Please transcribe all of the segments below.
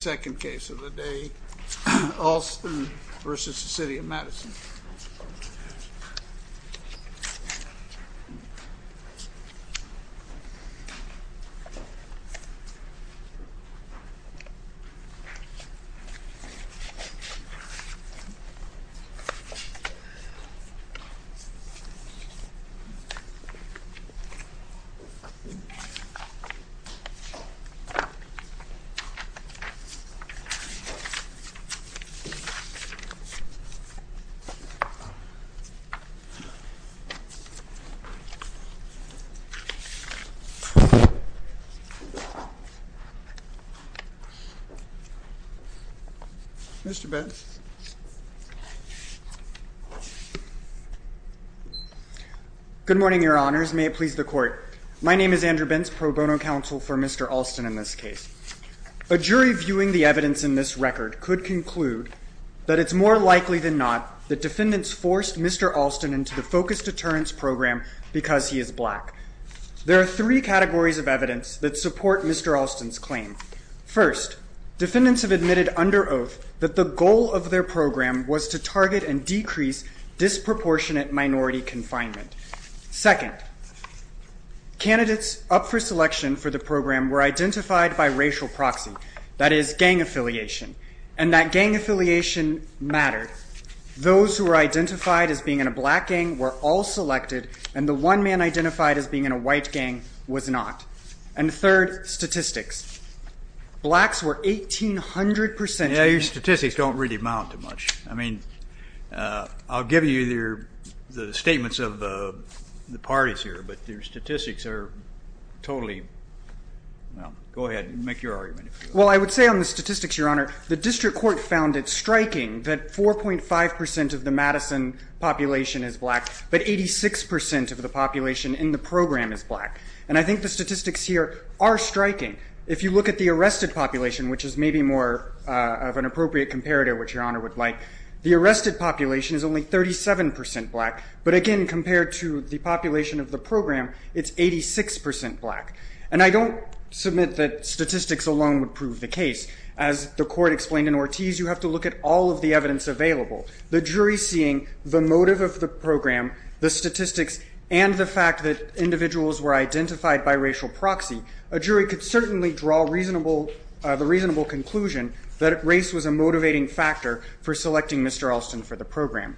Second case of the day, Alston v. City of Madison. Mr. Bentz. Good morning, your honors. May it please the court. My name is Andrew Bentz, pro bono counsel for Mr. Alston in this case. A jury viewing the evidence in this record could conclude that it's more likely than not that defendants forced Mr. Alston into the focused deterrence program because he is black. There are three categories of evidence that support Mr. Alston's claim. First, defendants have admitted under oath that the goal of their program was to target and decrease disproportionate minority confinement. Second, candidates up for selection for the program were identified by racial proxy, that is, gang affiliation, and that gang affiliation mattered. Those who were identified as being in a black gang were all selected, and the one man identified as being in a white gang was not. And third, statistics. Blacks were 1,800 percent. Yeah, your statistics don't really amount to much. I mean, I'll give you the statements of the parties here, but their statistics are totally, well, go ahead and make your argument. Well, I would say on the statistics, your honor, the district court found it striking that 4.5 percent of the Madison population is black, but 86 percent of the population in the program is black. And I think the statistics here are striking. If you look at the arrested population, which is maybe more of an appropriate comparator, which your honor would like, the arrested population is only 37 percent black, but again, compared to the population of the program, it's 86 percent black. And I don't submit that statistics alone would prove the case. As the court explained in Ortiz, you have to look at all of the evidence available. The jury seeing the motive of the program, the statistics, and the fact that individuals were identified by racial proxy, a jury could certainly draw the reasonable conclusion that race was a motivating factor for selecting Mr. Alston for the program.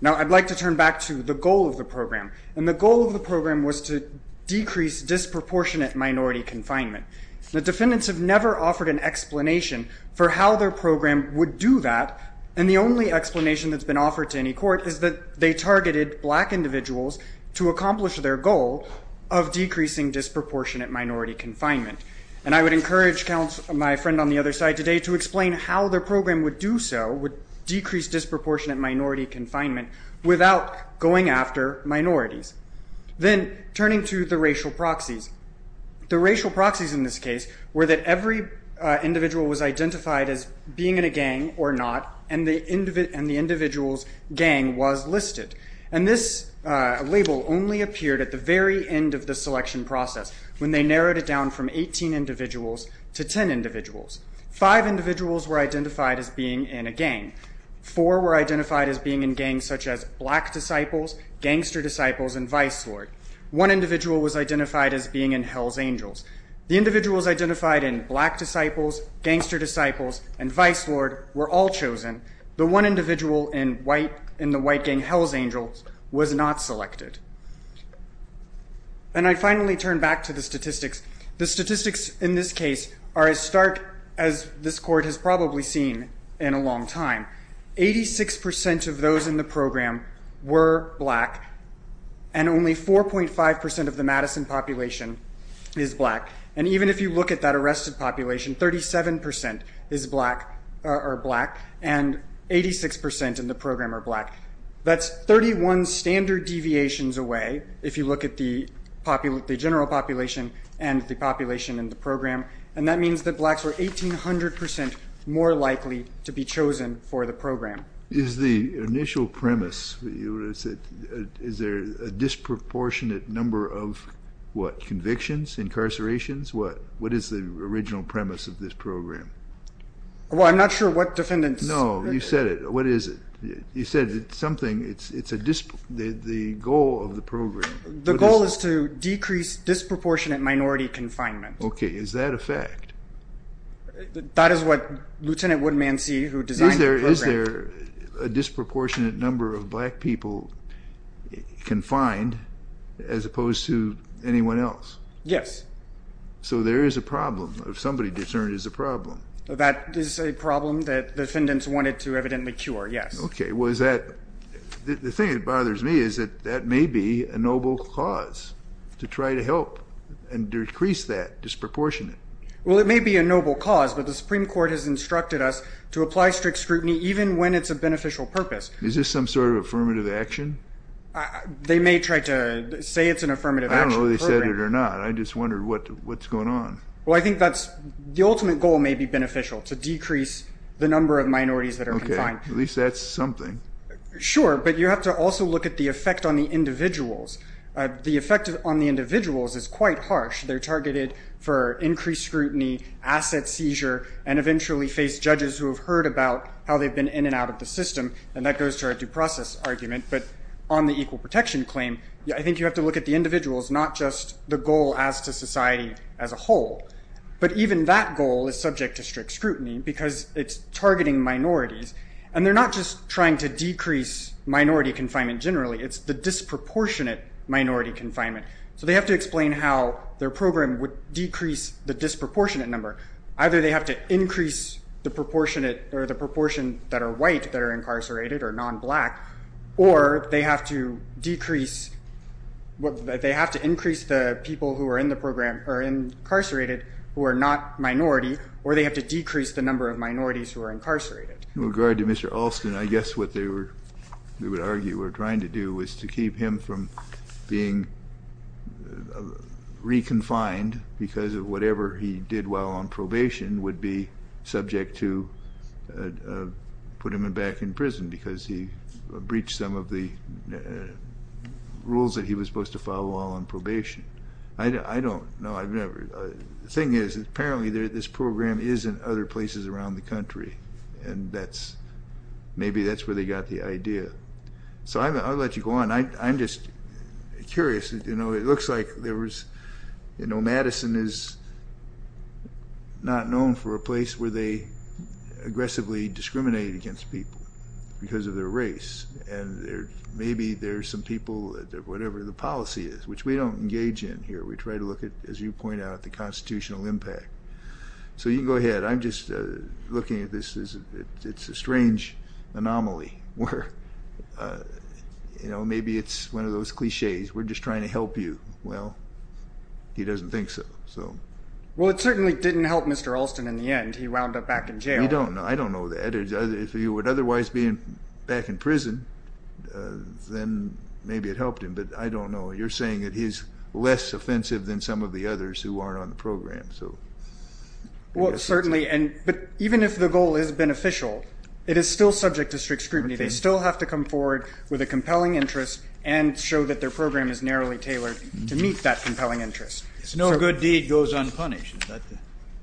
Now, I'd like to turn back to the goal of the program, and the goal of the program was to decrease disproportionate minority confinement. The defendants have never offered an explanation for how their program would do that, and the only explanation that's been offered to any court is that they targeted black individuals to accomplish their goal of decreasing disproportionate minority confinement. And I would encourage my friend on the other side today to explain how their program would do so, would decrease disproportionate minority confinement, without going after minorities. Then, turning to the racial proxies, the racial proxies in this case were that every individual was identified as being in a gang or not, and the individual's gang was listed. And this label only appeared at the very end of the selection process, when they narrowed it down from 18 individuals to 10 individuals. Five individuals were identified as being in a gang. Four were identified as being in gangs such as Black Disciples, Gangster Disciples, and Vice Lord. One individual was identified as being in Hell's Angels. The individuals identified in Black Disciples, Gangster Disciples, and Vice Lord were all chosen. The one individual in the white gang, Hell's Angels, was not selected. And I finally turn back to the statistics. The statistics in this case are as stark as this court has probably seen in a long time. 86% of those in the program were black, and only 4.5% of the Madison population is black. And even if you look at that arrested population, 37% are black, and 86% in the program are black. That's 31 standard deviations away, if you look at the general population and the population in the program. And that means that blacks were 1,800% more likely to be chosen for the program. Is the initial premise, is there a disproportionate number of, what, convictions, incarcerations? What is the original premise of this program? Well, I'm not sure what defendants... No, you said it. What is it? You said it's something, it's the goal of the program. The goal is to decrease disproportionate minority confinement. Okay, is that a fact? That is what Lieutenant Woodmancy, who designed the program... Is there a disproportionate number of black people confined, as opposed to anyone else? Yes. So there is a problem, if somebody discerned there's a problem. That is a problem that defendants wanted to evidently cure, yes. Okay, well, is that, the thing that bothers me is that that may be a noble cause, to try to help and decrease that disproportionate. Well, it may be a noble cause, but the Supreme Court has instructed us to apply strict scrutiny even when it's a beneficial purpose. Is this some sort of affirmative action? They may try to say it's an affirmative action program. I don't know whether they said it or not. I just wondered what's going on. Well, I think that's, the ultimate goal may be beneficial, to decrease the number of minorities that are confined. Okay, at least that's something. Sure, but you have to also look at the effect on the individuals. The effect on the individuals is quite harsh. They're targeted for increased scrutiny, asset seizure, and eventually face judges who have heard about how they've been in and out of the system. And that goes to our due process argument. But on the equal protection claim, I think you have to look at the individuals, not just the goal as to society as a whole. But even that goal is subject to strict scrutiny because it's targeting minorities. And they're not just trying to decrease minority confinement generally. It's the disproportionate minority confinement. So they have to explain how their program would decrease the disproportionate number. Either they have to increase the proportion that are white that are incarcerated or non-black, or they have to increase the people who are incarcerated who are not minority, or they have to decrease the number of minorities who are incarcerated. In regard to Mr. Alston, I guess what they would argue we're trying to do is to keep him from being reconfined because of whatever he did while on probation would be subject to put him back in prison because he breached some of the rules that he was supposed to follow while on probation. I don't know. The thing is apparently this program is in other places around the country, and maybe that's where they got the idea. So I'll let you go on. I'm just curious. It looks like Madison is not known for a place where they aggressively discriminate against people because of their race. And maybe there are some people, whatever the policy is, which we don't engage in here. We try to look at, as you point out, the constitutional impact. So you can go ahead. I'm just looking at this as it's a strange anomaly where maybe it's one of those clichés. We're just trying to help you. Well, he doesn't think so. Well, it certainly didn't help Mr. Alston in the end. He wound up back in jail. You don't know. I don't know that. If he would otherwise be back in prison, then maybe it helped him. But I don't know. You're saying that he's less offensive than some of the others who aren't on the program. Well, certainly. But even if the goal is beneficial, it is still subject to strict scrutiny. They still have to come forward with a compelling interest and show that their program is narrowly tailored to meet that compelling interest. No good deed goes unpunished.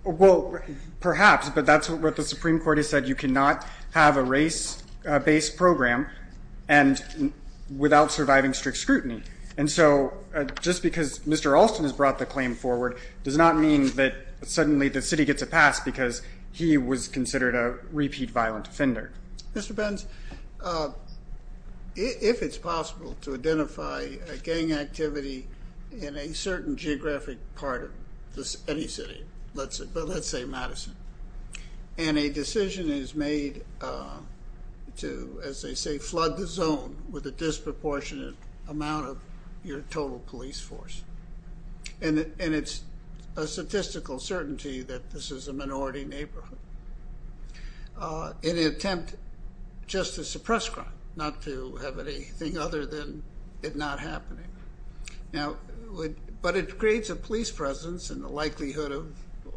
Well, perhaps. But that's what the Supreme Court has said. You cannot have a race-based program without surviving strict scrutiny. And so just because Mr. Alston has brought the claim forward does not mean that suddenly the city gets a pass because he was considered a repeat violent offender. Mr. Benz, if it's possible to identify a gang activity in a certain geographic part of any city, let's say Madison, and a decision is made to, as they say, flood the zone with a disproportionate amount of your total police force, and it's a statistical certainty that this is a minority neighborhood in an attempt just to suppress crime, not to have anything other than it not happening. Now, but it creates a police presence and the likelihood of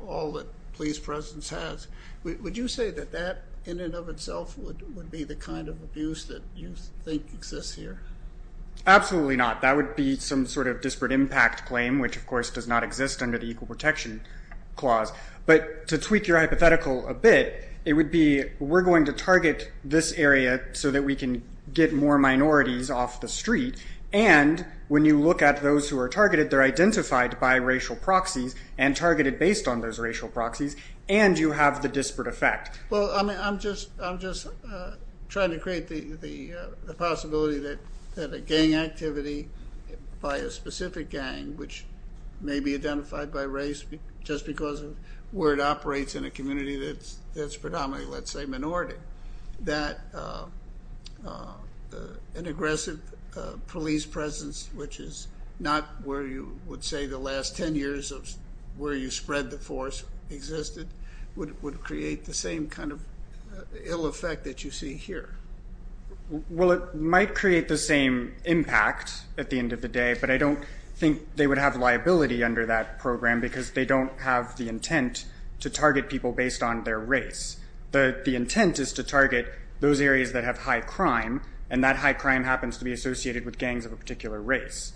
all that police presence has. Would you say that that in and of itself would be the kind of abuse that you think exists here? Absolutely not. That would be some sort of disparate impact claim, which, of course, does not exist under the Equal Protection Clause. But to tweak your hypothetical a bit, it would be we're going to target this area so that we can get more minorities off the street, and when you look at those who are targeted, they're identified by racial proxies and targeted based on those racial proxies, and you have the disparate effect. Well, I'm just trying to create the possibility that a gang activity by a specific gang, which may be identified by race just because of where it operates in a community that's predominantly, let's say, minority, that an aggressive police presence, which is not where you would say the last 10 years of where you spread the force existed, would create the same kind of ill effect that you see here. Well, it might create the same impact at the end of the day, but I don't think they would have liability under that program because they don't have the intent to target people based on their race. The intent is to target those areas that have high crime, and that high crime happens to be associated with gangs of a particular race.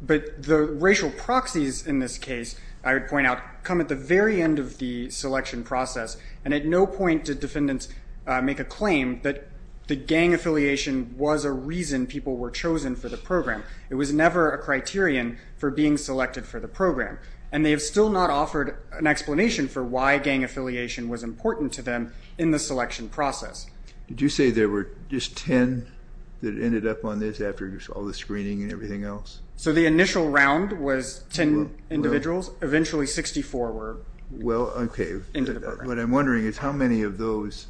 But the racial proxies in this case, I would point out, come at the very end of the selection process, and at no point did defendants make a claim that the gang affiliation was a reason people were chosen for the program. It was never a criterion for being selected for the program, and they have still not offered an explanation for why gang affiliation was important to them in the selection process. Did you say there were just 10 that ended up on this after all the screening and everything else? So the initial round was 10 individuals. What I'm wondering is how many of those,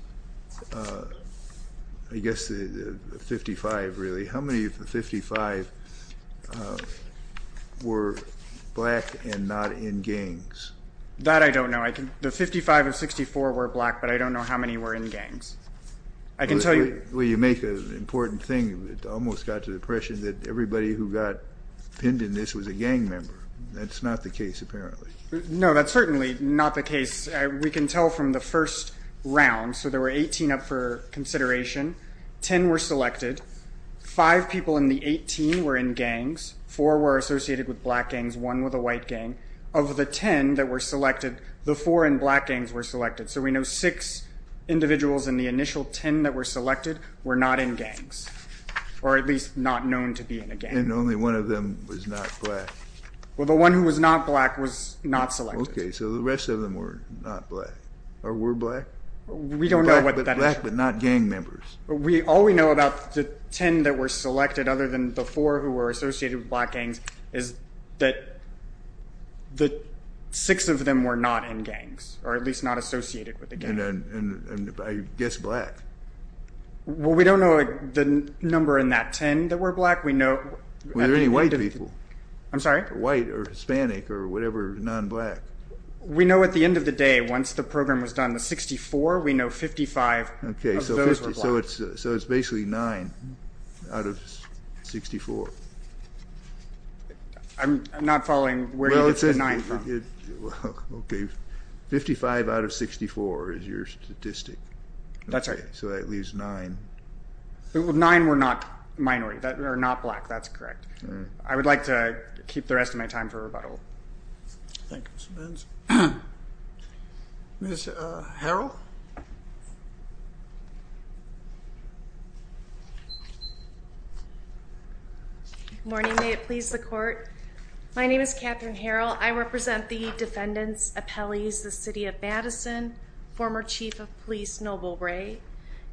I guess the 55 really, how many of the 55 were black and not in gangs? That I don't know. The 55 of 64 were black, but I don't know how many were in gangs. I can tell you. Well, you make an important thing. It almost got to the impression that everybody who got pinned in this was a gang member. That's not the case apparently. No, that's certainly not the case. We can tell from the first round. So there were 18 up for consideration. Ten were selected. Five people in the 18 were in gangs. Four were associated with black gangs, one with a white gang. Of the 10 that were selected, the four in black gangs were selected. So we know six individuals in the initial 10 that were selected were not in gangs, or at least not known to be in a gang. And only one of them was not black. Well, the one who was not black was not selected. Okay, so the rest of them were not black, or were black. We don't know what that is. Black but not gang members. All we know about the 10 that were selected, other than the four who were associated with black gangs, is that six of them were not in gangs, or at least not associated with a gang. And I guess black. Well, we don't know the number in that 10 that were black. Were there any white people? I'm sorry? White or Hispanic or whatever, non-black. We know at the end of the day, once the program was done, the 64, we know 55 of those were black. Okay, so it's basically nine out of 64. I'm not following where you get the nine from. Okay, 55 out of 64 is your statistic. That's right. So that leaves nine. Nine were not black, that's correct. I would like to keep the rest of my time for rebuttal. Thank you, Mr. Benz. Ms. Harrell? Good morning. May it please the Court. My name is Catherine Harrell. I represent the defendants' appellees, the City of Madison, former Chief of Police Noble Ray,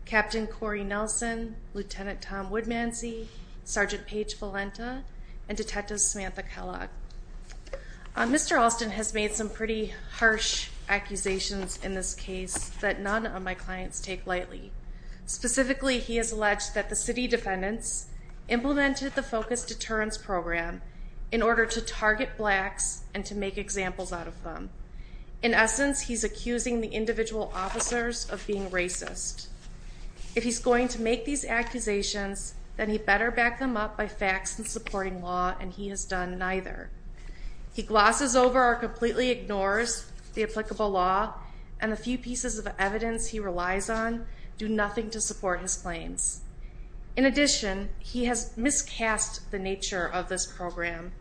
Captain Corey Nelson, Lieutenant Tom Woodmansey, Sergeant Paige Valenta, and Detective Samantha Kellogg. Mr. Alston has made some pretty harsh accusations in this case that none of my clients take lightly. Specifically, he has alleged that the city defendants implemented the focus deterrence program in order to target blacks and to make examples out of them. In essence, he's accusing the individual officers of being racist. If he's going to make these accusations, then he better back them up by facts and supporting law, and he has done neither. He glosses over or completely ignores the applicable law, and the few pieces of evidence he relies on do nothing to support his claims. In addition, he has miscast the nature of this program.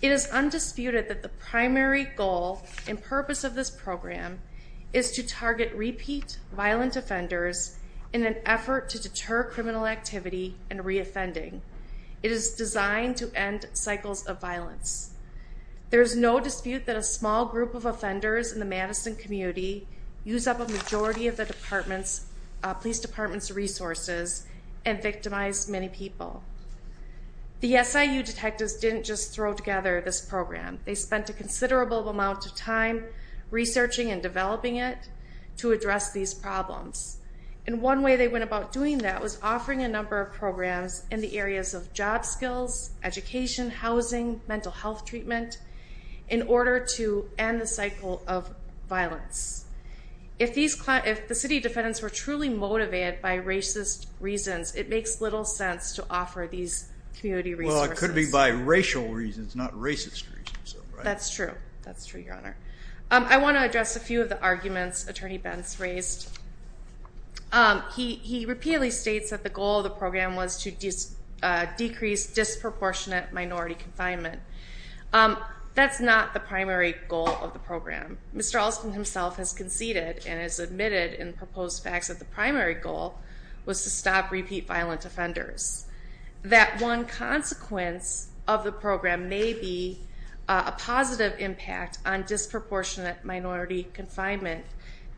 It is undisputed that the primary goal and purpose of this program is to target repeat violent offenders in an effort to deter criminal activity and re-offending. It is designed to end cycles of violence. There is no dispute that a small group of offenders in the Madison community use up a majority of the police department's resources and victimize many people. The SIU detectives didn't just throw together this program. They spent a considerable amount of time researching and developing it to address these problems. And one way they went about doing that was offering a number of programs in the areas of job skills, education, housing, mental health treatment, in order to end the cycle of violence. If the city defendants were truly motivated by racist reasons, it makes little sense to offer these community resources. It could be by racial reasons, not racist reasons. That's true. That's true, Your Honor. I want to address a few of the arguments Attorney Bentz raised. He repeatedly states that the goal of the program was to decrease disproportionate minority confinement. That's not the primary goal of the program. Mr. Alston himself has conceded and has admitted in proposed facts that the primary goal was to stop repeat violent offenders. That one consequence of the program may be a positive impact on disproportionate minority confinement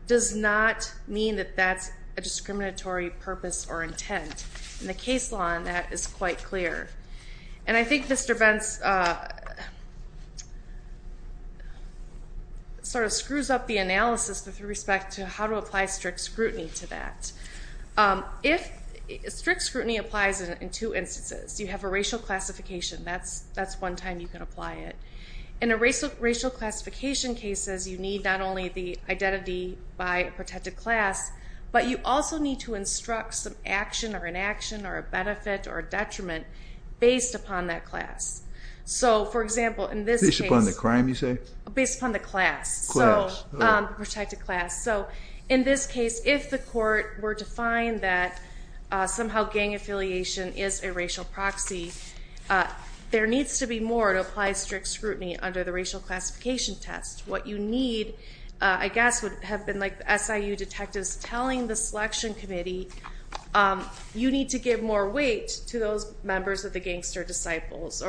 does not mean that that's a discriminatory purpose or intent. And the case law on that is quite clear. And I think Mr. Bentz sort of screws up the analysis with respect to how to apply strict scrutiny to that. Strict scrutiny applies in two instances. You have a racial classification. That's one time you can apply it. In a racial classification case, you need not only the identity by a protected class, but you also need to instruct some action or inaction or a benefit or detriment based upon that class. Based upon the crime, you say? Based upon the class, the protected class. So in this case, if the court were to find that somehow gang affiliation is a racial proxy, there needs to be more to apply strict scrutiny under the racial classification test. What you need, I guess, would have been like the SIU detectives telling the selection committee, you need to give more weight to those members of the gangster disciples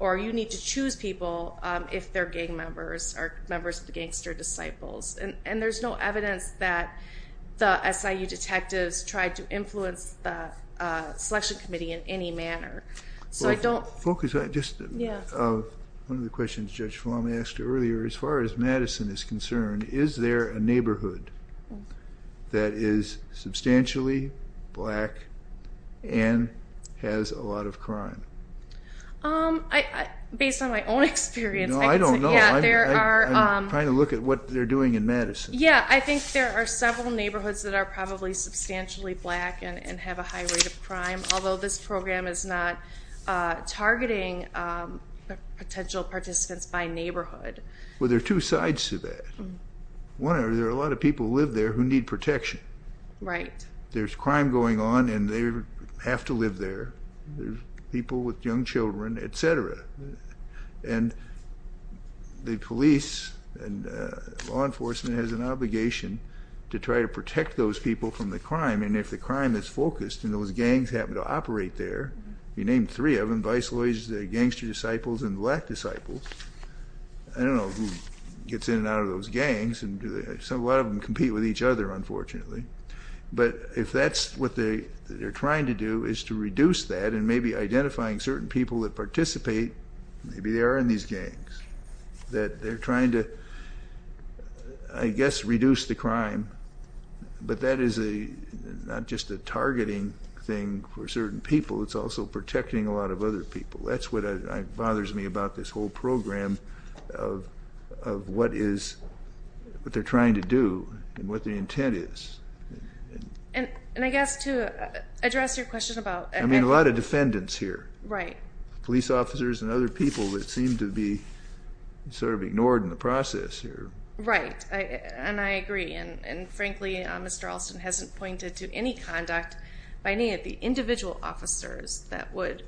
or you need to choose people if they're gang members or members of the gangster disciples. And there's no evidence that the SIU detectives tried to influence the selection committee in any manner. So I don't... Focus on just one of the questions Judge Falami asked earlier. As far as Madison is concerned, is there a neighborhood that is substantially black and has a lot of crime? Based on my own experience... No, I don't know. I'm trying to look at what they're doing in Madison. Yeah, I think there are several neighborhoods that are probably substantially black and have a high rate of crime, although this program is not targeting potential participants by neighborhood. Well, there are two sides to that. One, there are a lot of people who live there who need protection. Right. There's crime going on and they have to live there. There's people with young children, et cetera. And the police and law enforcement has an obligation to try to protect those people from the crime, and if the crime is focused and those gangs happen to operate there, you name three of them, vice lawyers, the gangster disciples, and black disciples, I don't know who gets in and out of those gangs. A lot of them compete with each other, unfortunately. But if that's what they're trying to do is to reduce that and maybe identifying certain people that participate, maybe they are in these gangs, that they're trying to, I guess, reduce the crime, but that is not just a targeting thing for certain people, it's also protecting a lot of other people. That's what bothers me about this whole program of what they're trying to do and what the intent is. And I guess to address your question about... I mean, a lot of defendants here. Right. Police officers and other people that seem to be sort of ignored in the process here. Right, and I agree. And frankly, Mr. Alston hasn't pointed to any conduct by any of the individual officers that would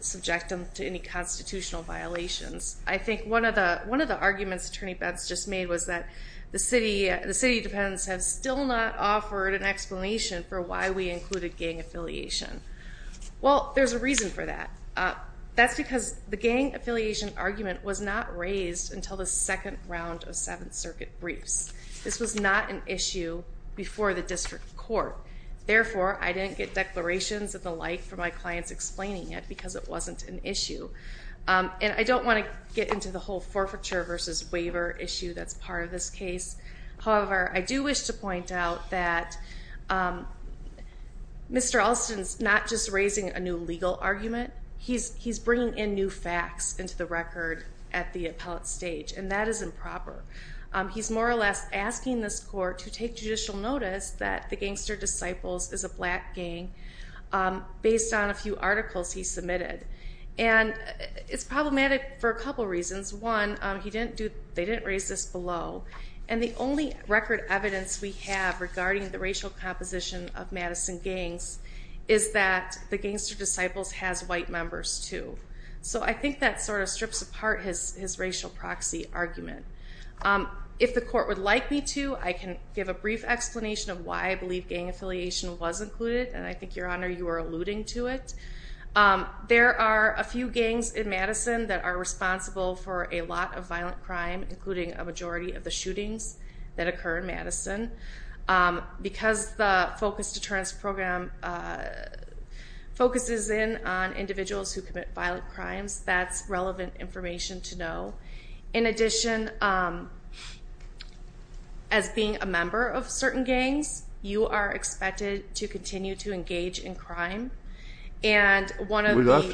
subject them to any constitutional violations. I think one of the arguments Attorney Betz just made was that the city defendants have still not offered an explanation for why we included gang affiliation. Well, there's a reason for that. That's because the gang affiliation argument was not raised until the second round of Seventh Circuit briefs. This was not an issue before the district court. Therefore, I didn't get declarations and the like from my clients explaining it because it wasn't an issue. And I don't want to get into the whole forfeiture versus waiver issue that's part of this case. However, I do wish to point out that Mr. Alston's not just raising a new legal argument. He's bringing in new facts into the record at the appellate stage, and that is improper. He's more or less asking this court to take judicial notice that the Gangster Disciples is a black gang based on a few articles he submitted. And it's problematic for a couple reasons. One, they didn't raise this below. And the only record evidence we have regarding the racial composition of Madison gangs is that the Gangster Disciples has white members, too. So I think that sort of strips apart his racial proxy argument. If the court would like me to, I can give a brief explanation of why I believe gang affiliation was included, and I think, Your Honor, you were alluding to it. There are a few gangs in Madison that are responsible for a lot of violent crime, including a majority of the shootings that occur in Madison. Because the focused deterrence program focuses in on individuals who commit violent crimes, that's relevant information to know. In addition, as being a member of certain gangs, you are expected to continue to engage in crime. In Chicago,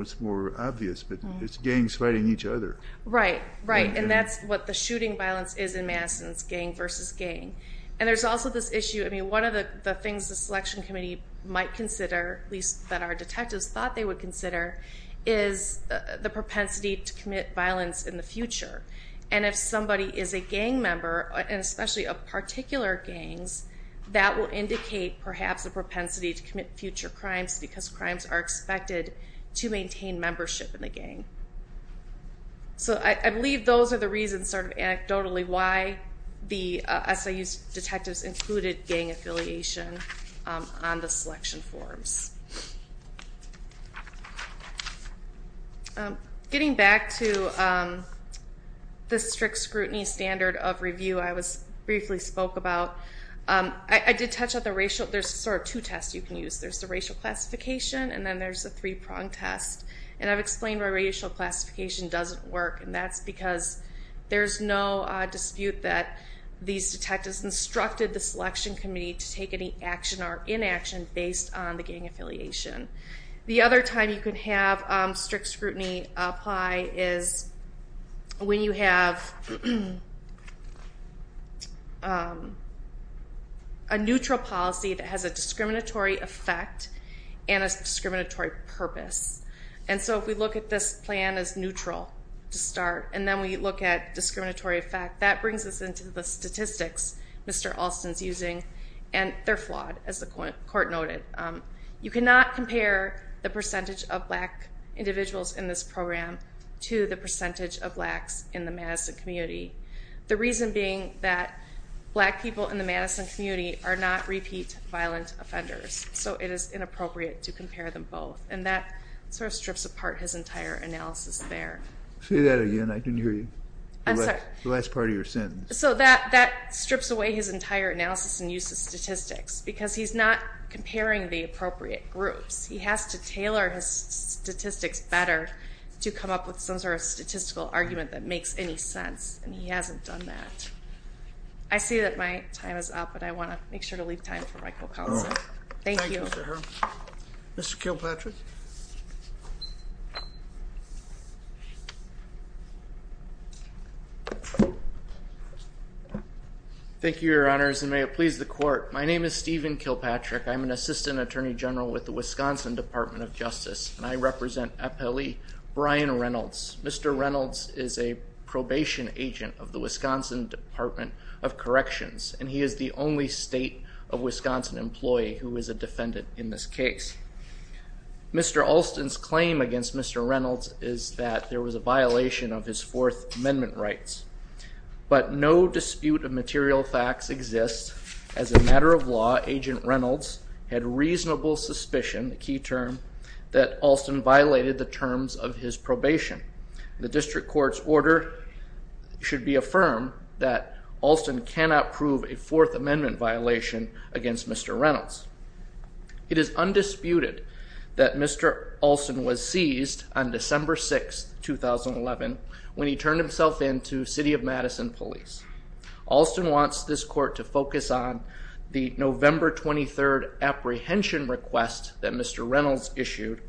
it's more obvious, but it's gangs fighting each other. Right, right, and that's what the shooting violence is in Madison. It's gang versus gang. And there's also this issue, I mean, one of the things the selection committee might consider, at least that our detectives thought they would consider, is the propensity to commit violence in the future. And if somebody is a gang member, and especially of particular gangs, that will indicate perhaps a propensity to commit future crimes because crimes are expected to maintain membership in the gang. So I believe those are the reasons, sort of anecdotally, why the SIU detectives included gang affiliation on the selection forms. Getting back to the strict scrutiny standard of review I briefly spoke about, I did touch on the racial, there's sort of two tests you can use. There's the racial classification and then there's the three-prong test. And I've explained why racial classification doesn't work, and that's because there's no dispute that these detectives instructed the selection committee to take any action or inaction based on the gang affiliation. The other time you can have strict scrutiny apply is when you have a neutral policy that has a discriminatory effect and a discriminatory purpose. And so if we look at this plan as neutral to start, and then we look at discriminatory effect, that brings us into the statistics Mr. Alston's using, and they're flawed, as the court noted. You cannot compare the percentage of black individuals in this program to the percentage of blacks in the Madison community. The reason being that black people in the Madison community are not repeat violent offenders, so it is inappropriate to compare them both. And that sort of strips apart his entire analysis there. Say that again. I didn't hear you. I'm sorry. The last part of your sentence. So that strips away his entire analysis and use of statistics because he's not comparing the appropriate groups. He has to tailor his statistics better to come up with some sort of statistical argument that makes any sense, and he hasn't done that. I see that my time is up, and I want to make sure to leave time for my co-counsel. Thank you. Mr. Kilpatrick. Thank you, Your Honors, and may it please the court. My name is Stephen Kilpatrick. I'm an assistant attorney general with the Wisconsin Department of Justice, and I represent appellee Brian Reynolds. Mr. Reynolds is a probation agent of the Wisconsin Department of Corrections, and he is the only state of Wisconsin employee who is a defendant in this case. Mr. Alston's claim against Mr. Reynolds is that there was a violation of his Fourth Amendment rights, but no dispute of material facts exists. As a matter of law, Agent Reynolds had reasonable suspicion, the key term, that Alston violated the terms of his probation. The district court's order should be affirmed that Alston cannot prove a Fourth Amendment violation against Mr. Reynolds. It is undisputed that Mr. Alston was seized on December 6, 2011, when he turned himself in to City of Madison police. Alston wants this court to focus on the November 23 apprehension request that Mr. Reynolds issued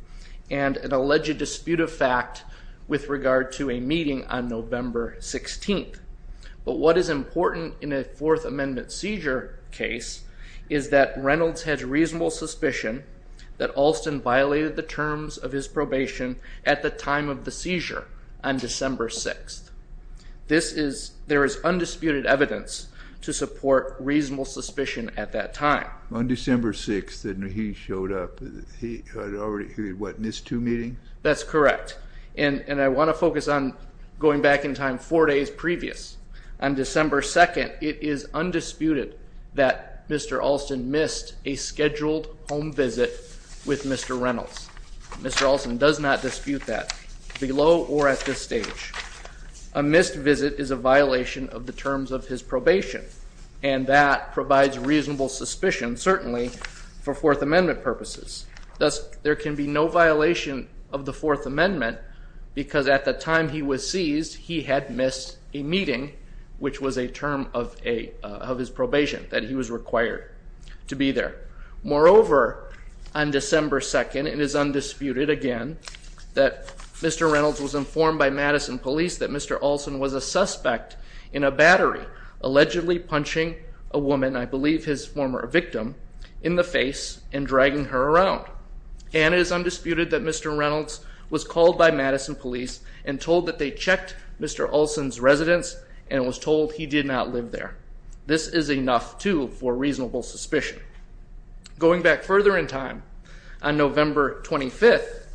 and an alleged dispute of fact with regard to a meeting on November 16. But what is important in a Fourth Amendment seizure case is that Reynolds had reasonable suspicion that Alston violated the terms of his probation at the time of the seizure on December 6. There is undisputed evidence to support reasonable suspicion at that time. On December 6, when he showed up, he had already, what, missed two meetings? That's correct, and I want to focus on going back in time four days previous. On December 2, it is undisputed that Mr. Alston missed a scheduled home visit with Mr. Reynolds. Mr. Alston does not dispute that, below or at this stage. A missed visit is a violation of the terms of his probation, and that provides reasonable suspicion, certainly, for Fourth Amendment purposes. Thus, there can be no violation of the Fourth Amendment because at the time he was seized, he had missed a meeting, which was a term of his probation, that he was required to be there. Moreover, on December 2, it is undisputed, again, that Mr. Reynolds was informed by Madison police that Mr. Alston was a suspect in a battery, allegedly punching a woman, I believe his former victim, in the face and dragging her around. And it is undisputed that Mr. Reynolds was called by Madison police and told that they checked Mr. Alston's residence and was told he did not live there. This is enough, too, for reasonable suspicion. Going back further in time, on November 25,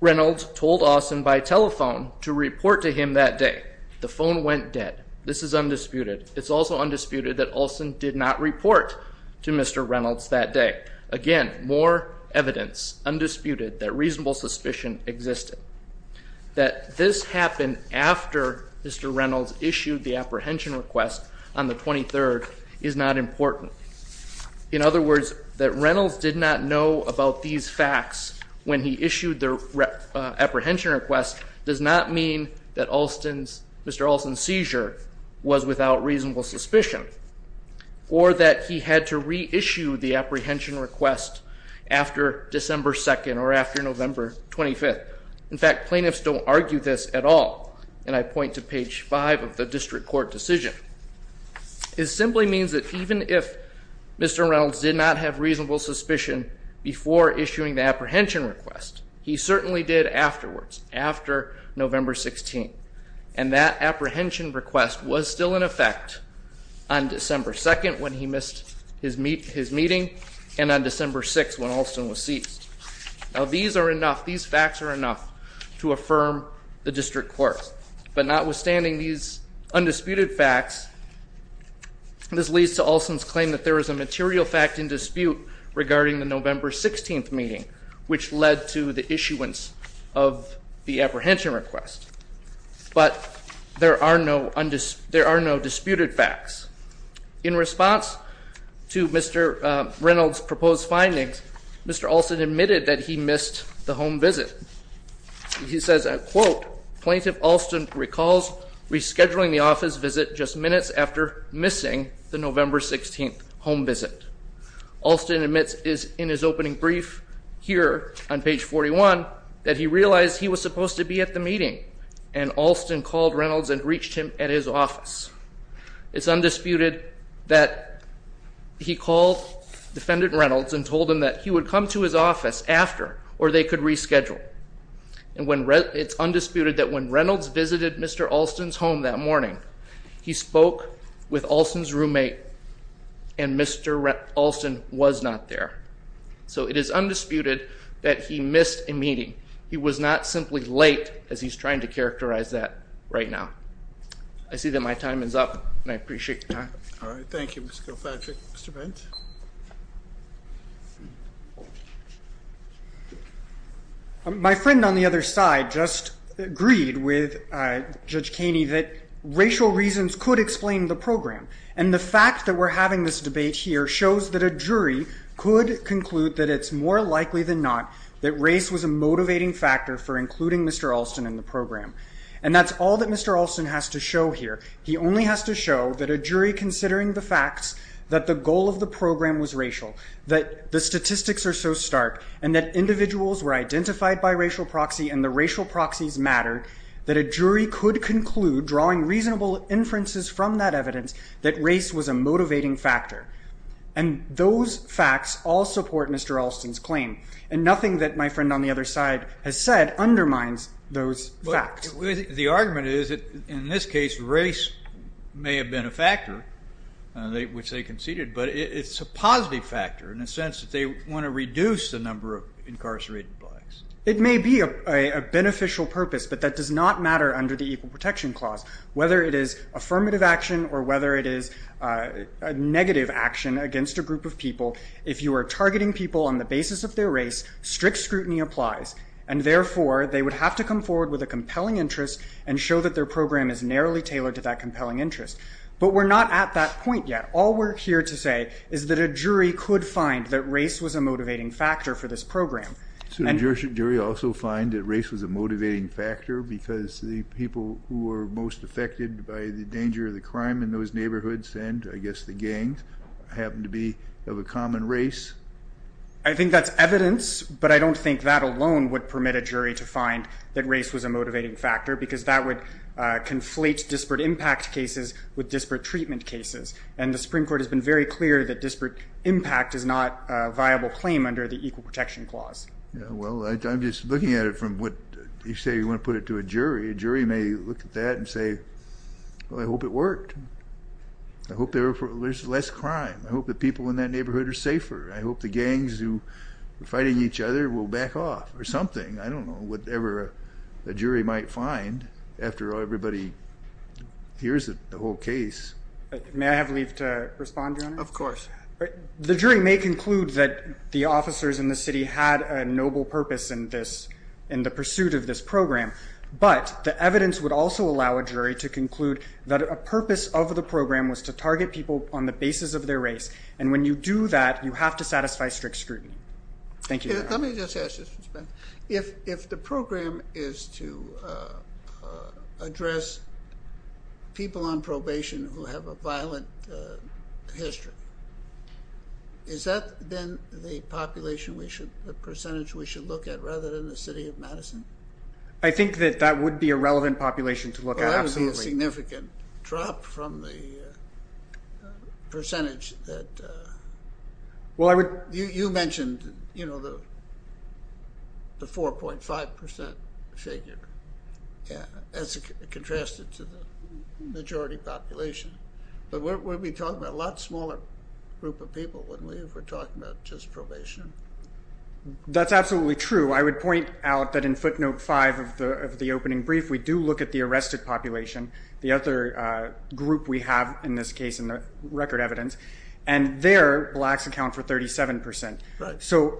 Reynolds told Alston by telephone to report to him that day. The phone went dead. This is undisputed. It's also undisputed that Alston did not report to Mr. Reynolds that day. Again, more evidence, undisputed, that reasonable suspicion existed. That this happened after Mr. Reynolds issued the apprehension request on the 23rd is not important. In other words, that Reynolds did not know about these facts when he issued the apprehension request does not mean that Mr. Alston's seizure was without reasonable suspicion or that he had to reissue the apprehension request after December 2 or after November 25. In fact, plaintiffs don't argue this at all, and I point to page 5 of the district court decision. It simply means that even if Mr. Reynolds did not have reasonable suspicion before issuing the apprehension request, he certainly did afterwards, after November 16. And that apprehension request was still in effect on December 2 when he missed his meeting and on December 6 when Alston was seized. Now these are enough, these facts are enough to affirm the district court. But notwithstanding these undisputed facts, this leads to Alston's claim that there is a material fact in dispute regarding the November 16 meeting, which led to the issuance of the apprehension request. But there are no disputed facts. In response to Mr. Reynolds' proposed findings, Mr. Alston admitted that he missed the home visit. He says, and I quote, Plaintiff Alston recalls rescheduling the office visit just minutes after missing the November 16 home visit. Alston admits in his opening brief here on page 41 that he realized he was supposed to be at the meeting, and Alston called Reynolds and reached him at his office. It's undisputed that he called Defendant Reynolds and told him that he would come to his office after, or they could reschedule. And it's undisputed that when Reynolds visited Mr. Alston's home that morning, he spoke with Alston's roommate, and Mr. Alston was not there. So it is undisputed that he missed a meeting. He was not simply late, as he's trying to characterize that right now. I see that my time is up, and I appreciate your time. All right, thank you, Mr. Kilpatrick. Mr. Bent? My friend on the other side just agreed with Judge Kaney that racial reasons could explain the program, and the fact that we're having this debate here shows that a jury could conclude that it's more likely than not that race was a motivating factor for including Mr. Alston in the program. And that's all that Mr. Alston has to show here. He only has to show that a jury considering the facts that the goal of the program was racial, that the statistics are so stark, and that individuals were identified by racial proxy and the racial proxies mattered, that a jury could conclude, drawing reasonable inferences from that evidence, that race was a motivating factor. And those facts all support Mr. Alston's claim, and nothing that my friend on the other side has said undermines those facts. The argument is that, in this case, race may have been a factor, which they conceded, but it's a positive factor in the sense that they want to reduce the number of incarcerated blacks. It may be a beneficial purpose, but that does not matter under the Equal Protection Clause. Whether it is affirmative action or whether it is negative action against a group of people, if you are targeting people on the basis of their race, strict scrutiny applies, and therefore they would have to come forward with a compelling interest and show that their program is narrowly tailored to that compelling interest. But we're not at that point yet. All we're here to say is that a jury could find that race was a motivating factor for this program. So the jury also find that race was a motivating factor because the people who were most affected by the danger of the crime in those neighborhoods and, I guess, the gangs, happened to be of a common race? I think that's evidence, but I don't think that alone would permit a jury to find that race was a motivating factor because that would conflate disparate impact cases with disparate treatment cases. And the Supreme Court has been very clear that disparate impact is not a viable claim under the Equal Protection Clause. Well, I'm just looking at it from what you say you want to put it to a jury. A jury may look at that and say, well, I hope it worked. I hope there's less crime. I hope the people in that neighborhood are safer. I hope the gangs who are fighting each other will back off or something. I don't know whatever a jury might find after everybody hears the whole case. May I have leave to respond, Your Honor? Of course. The jury may conclude that the officers in the city had a noble purpose in the pursuit of this program, but the evidence would also allow a jury to conclude that a purpose of the program was to target people on the basis of their race. And when you do that, you have to satisfy strict scrutiny. Thank you, Your Honor. Let me just ask this, Mr. Spence. If the program is to address people on probation who have a violent history, is that then the population, the percentage we should look at rather than the city of Madison? I think that that would be a relevant population to look at, absolutely. There's a significant drop from the percentage that you mentioned, you know, the 4.5% figure as contrasted to the majority population. But we're talking about a lot smaller group of people when we're talking about just probation. That's absolutely true. I would point out that in footnote 5 of the opening brief, we do look at the arrested population, the other group we have in this case in the record evidence, and there blacks account for 37%. So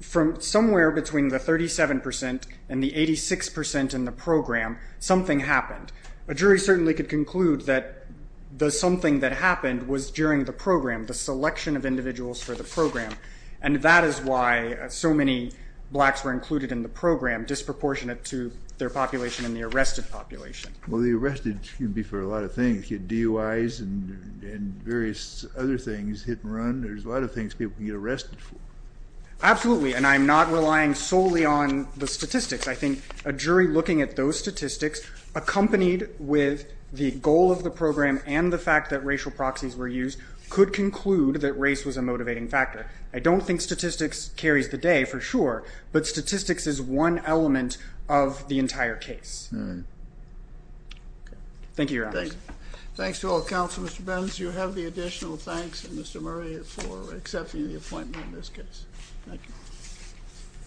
from somewhere between the 37% and the 86% in the program, something happened. A jury certainly could conclude that the something that happened was during the program, the selection of individuals for the program. And that is why so many blacks were included in the program, disproportionate to their population and the arrested population. Well, the arrested can be for a lot of things, DUIs and various other things, hit and run. There's a lot of things people can get arrested for. Absolutely, and I'm not relying solely on the statistics. I think a jury looking at those statistics accompanied with the goal of the program and the fact that racial proxies were used could conclude that race was a motivating factor. I don't think statistics carries the day for sure, but statistics is one element of the entire case. Thank you, Your Honor. Thanks to all counsel, Mr. Benz. You have the additional thanks, and Mr. Murray, for accepting the appointment in this case. Thank you.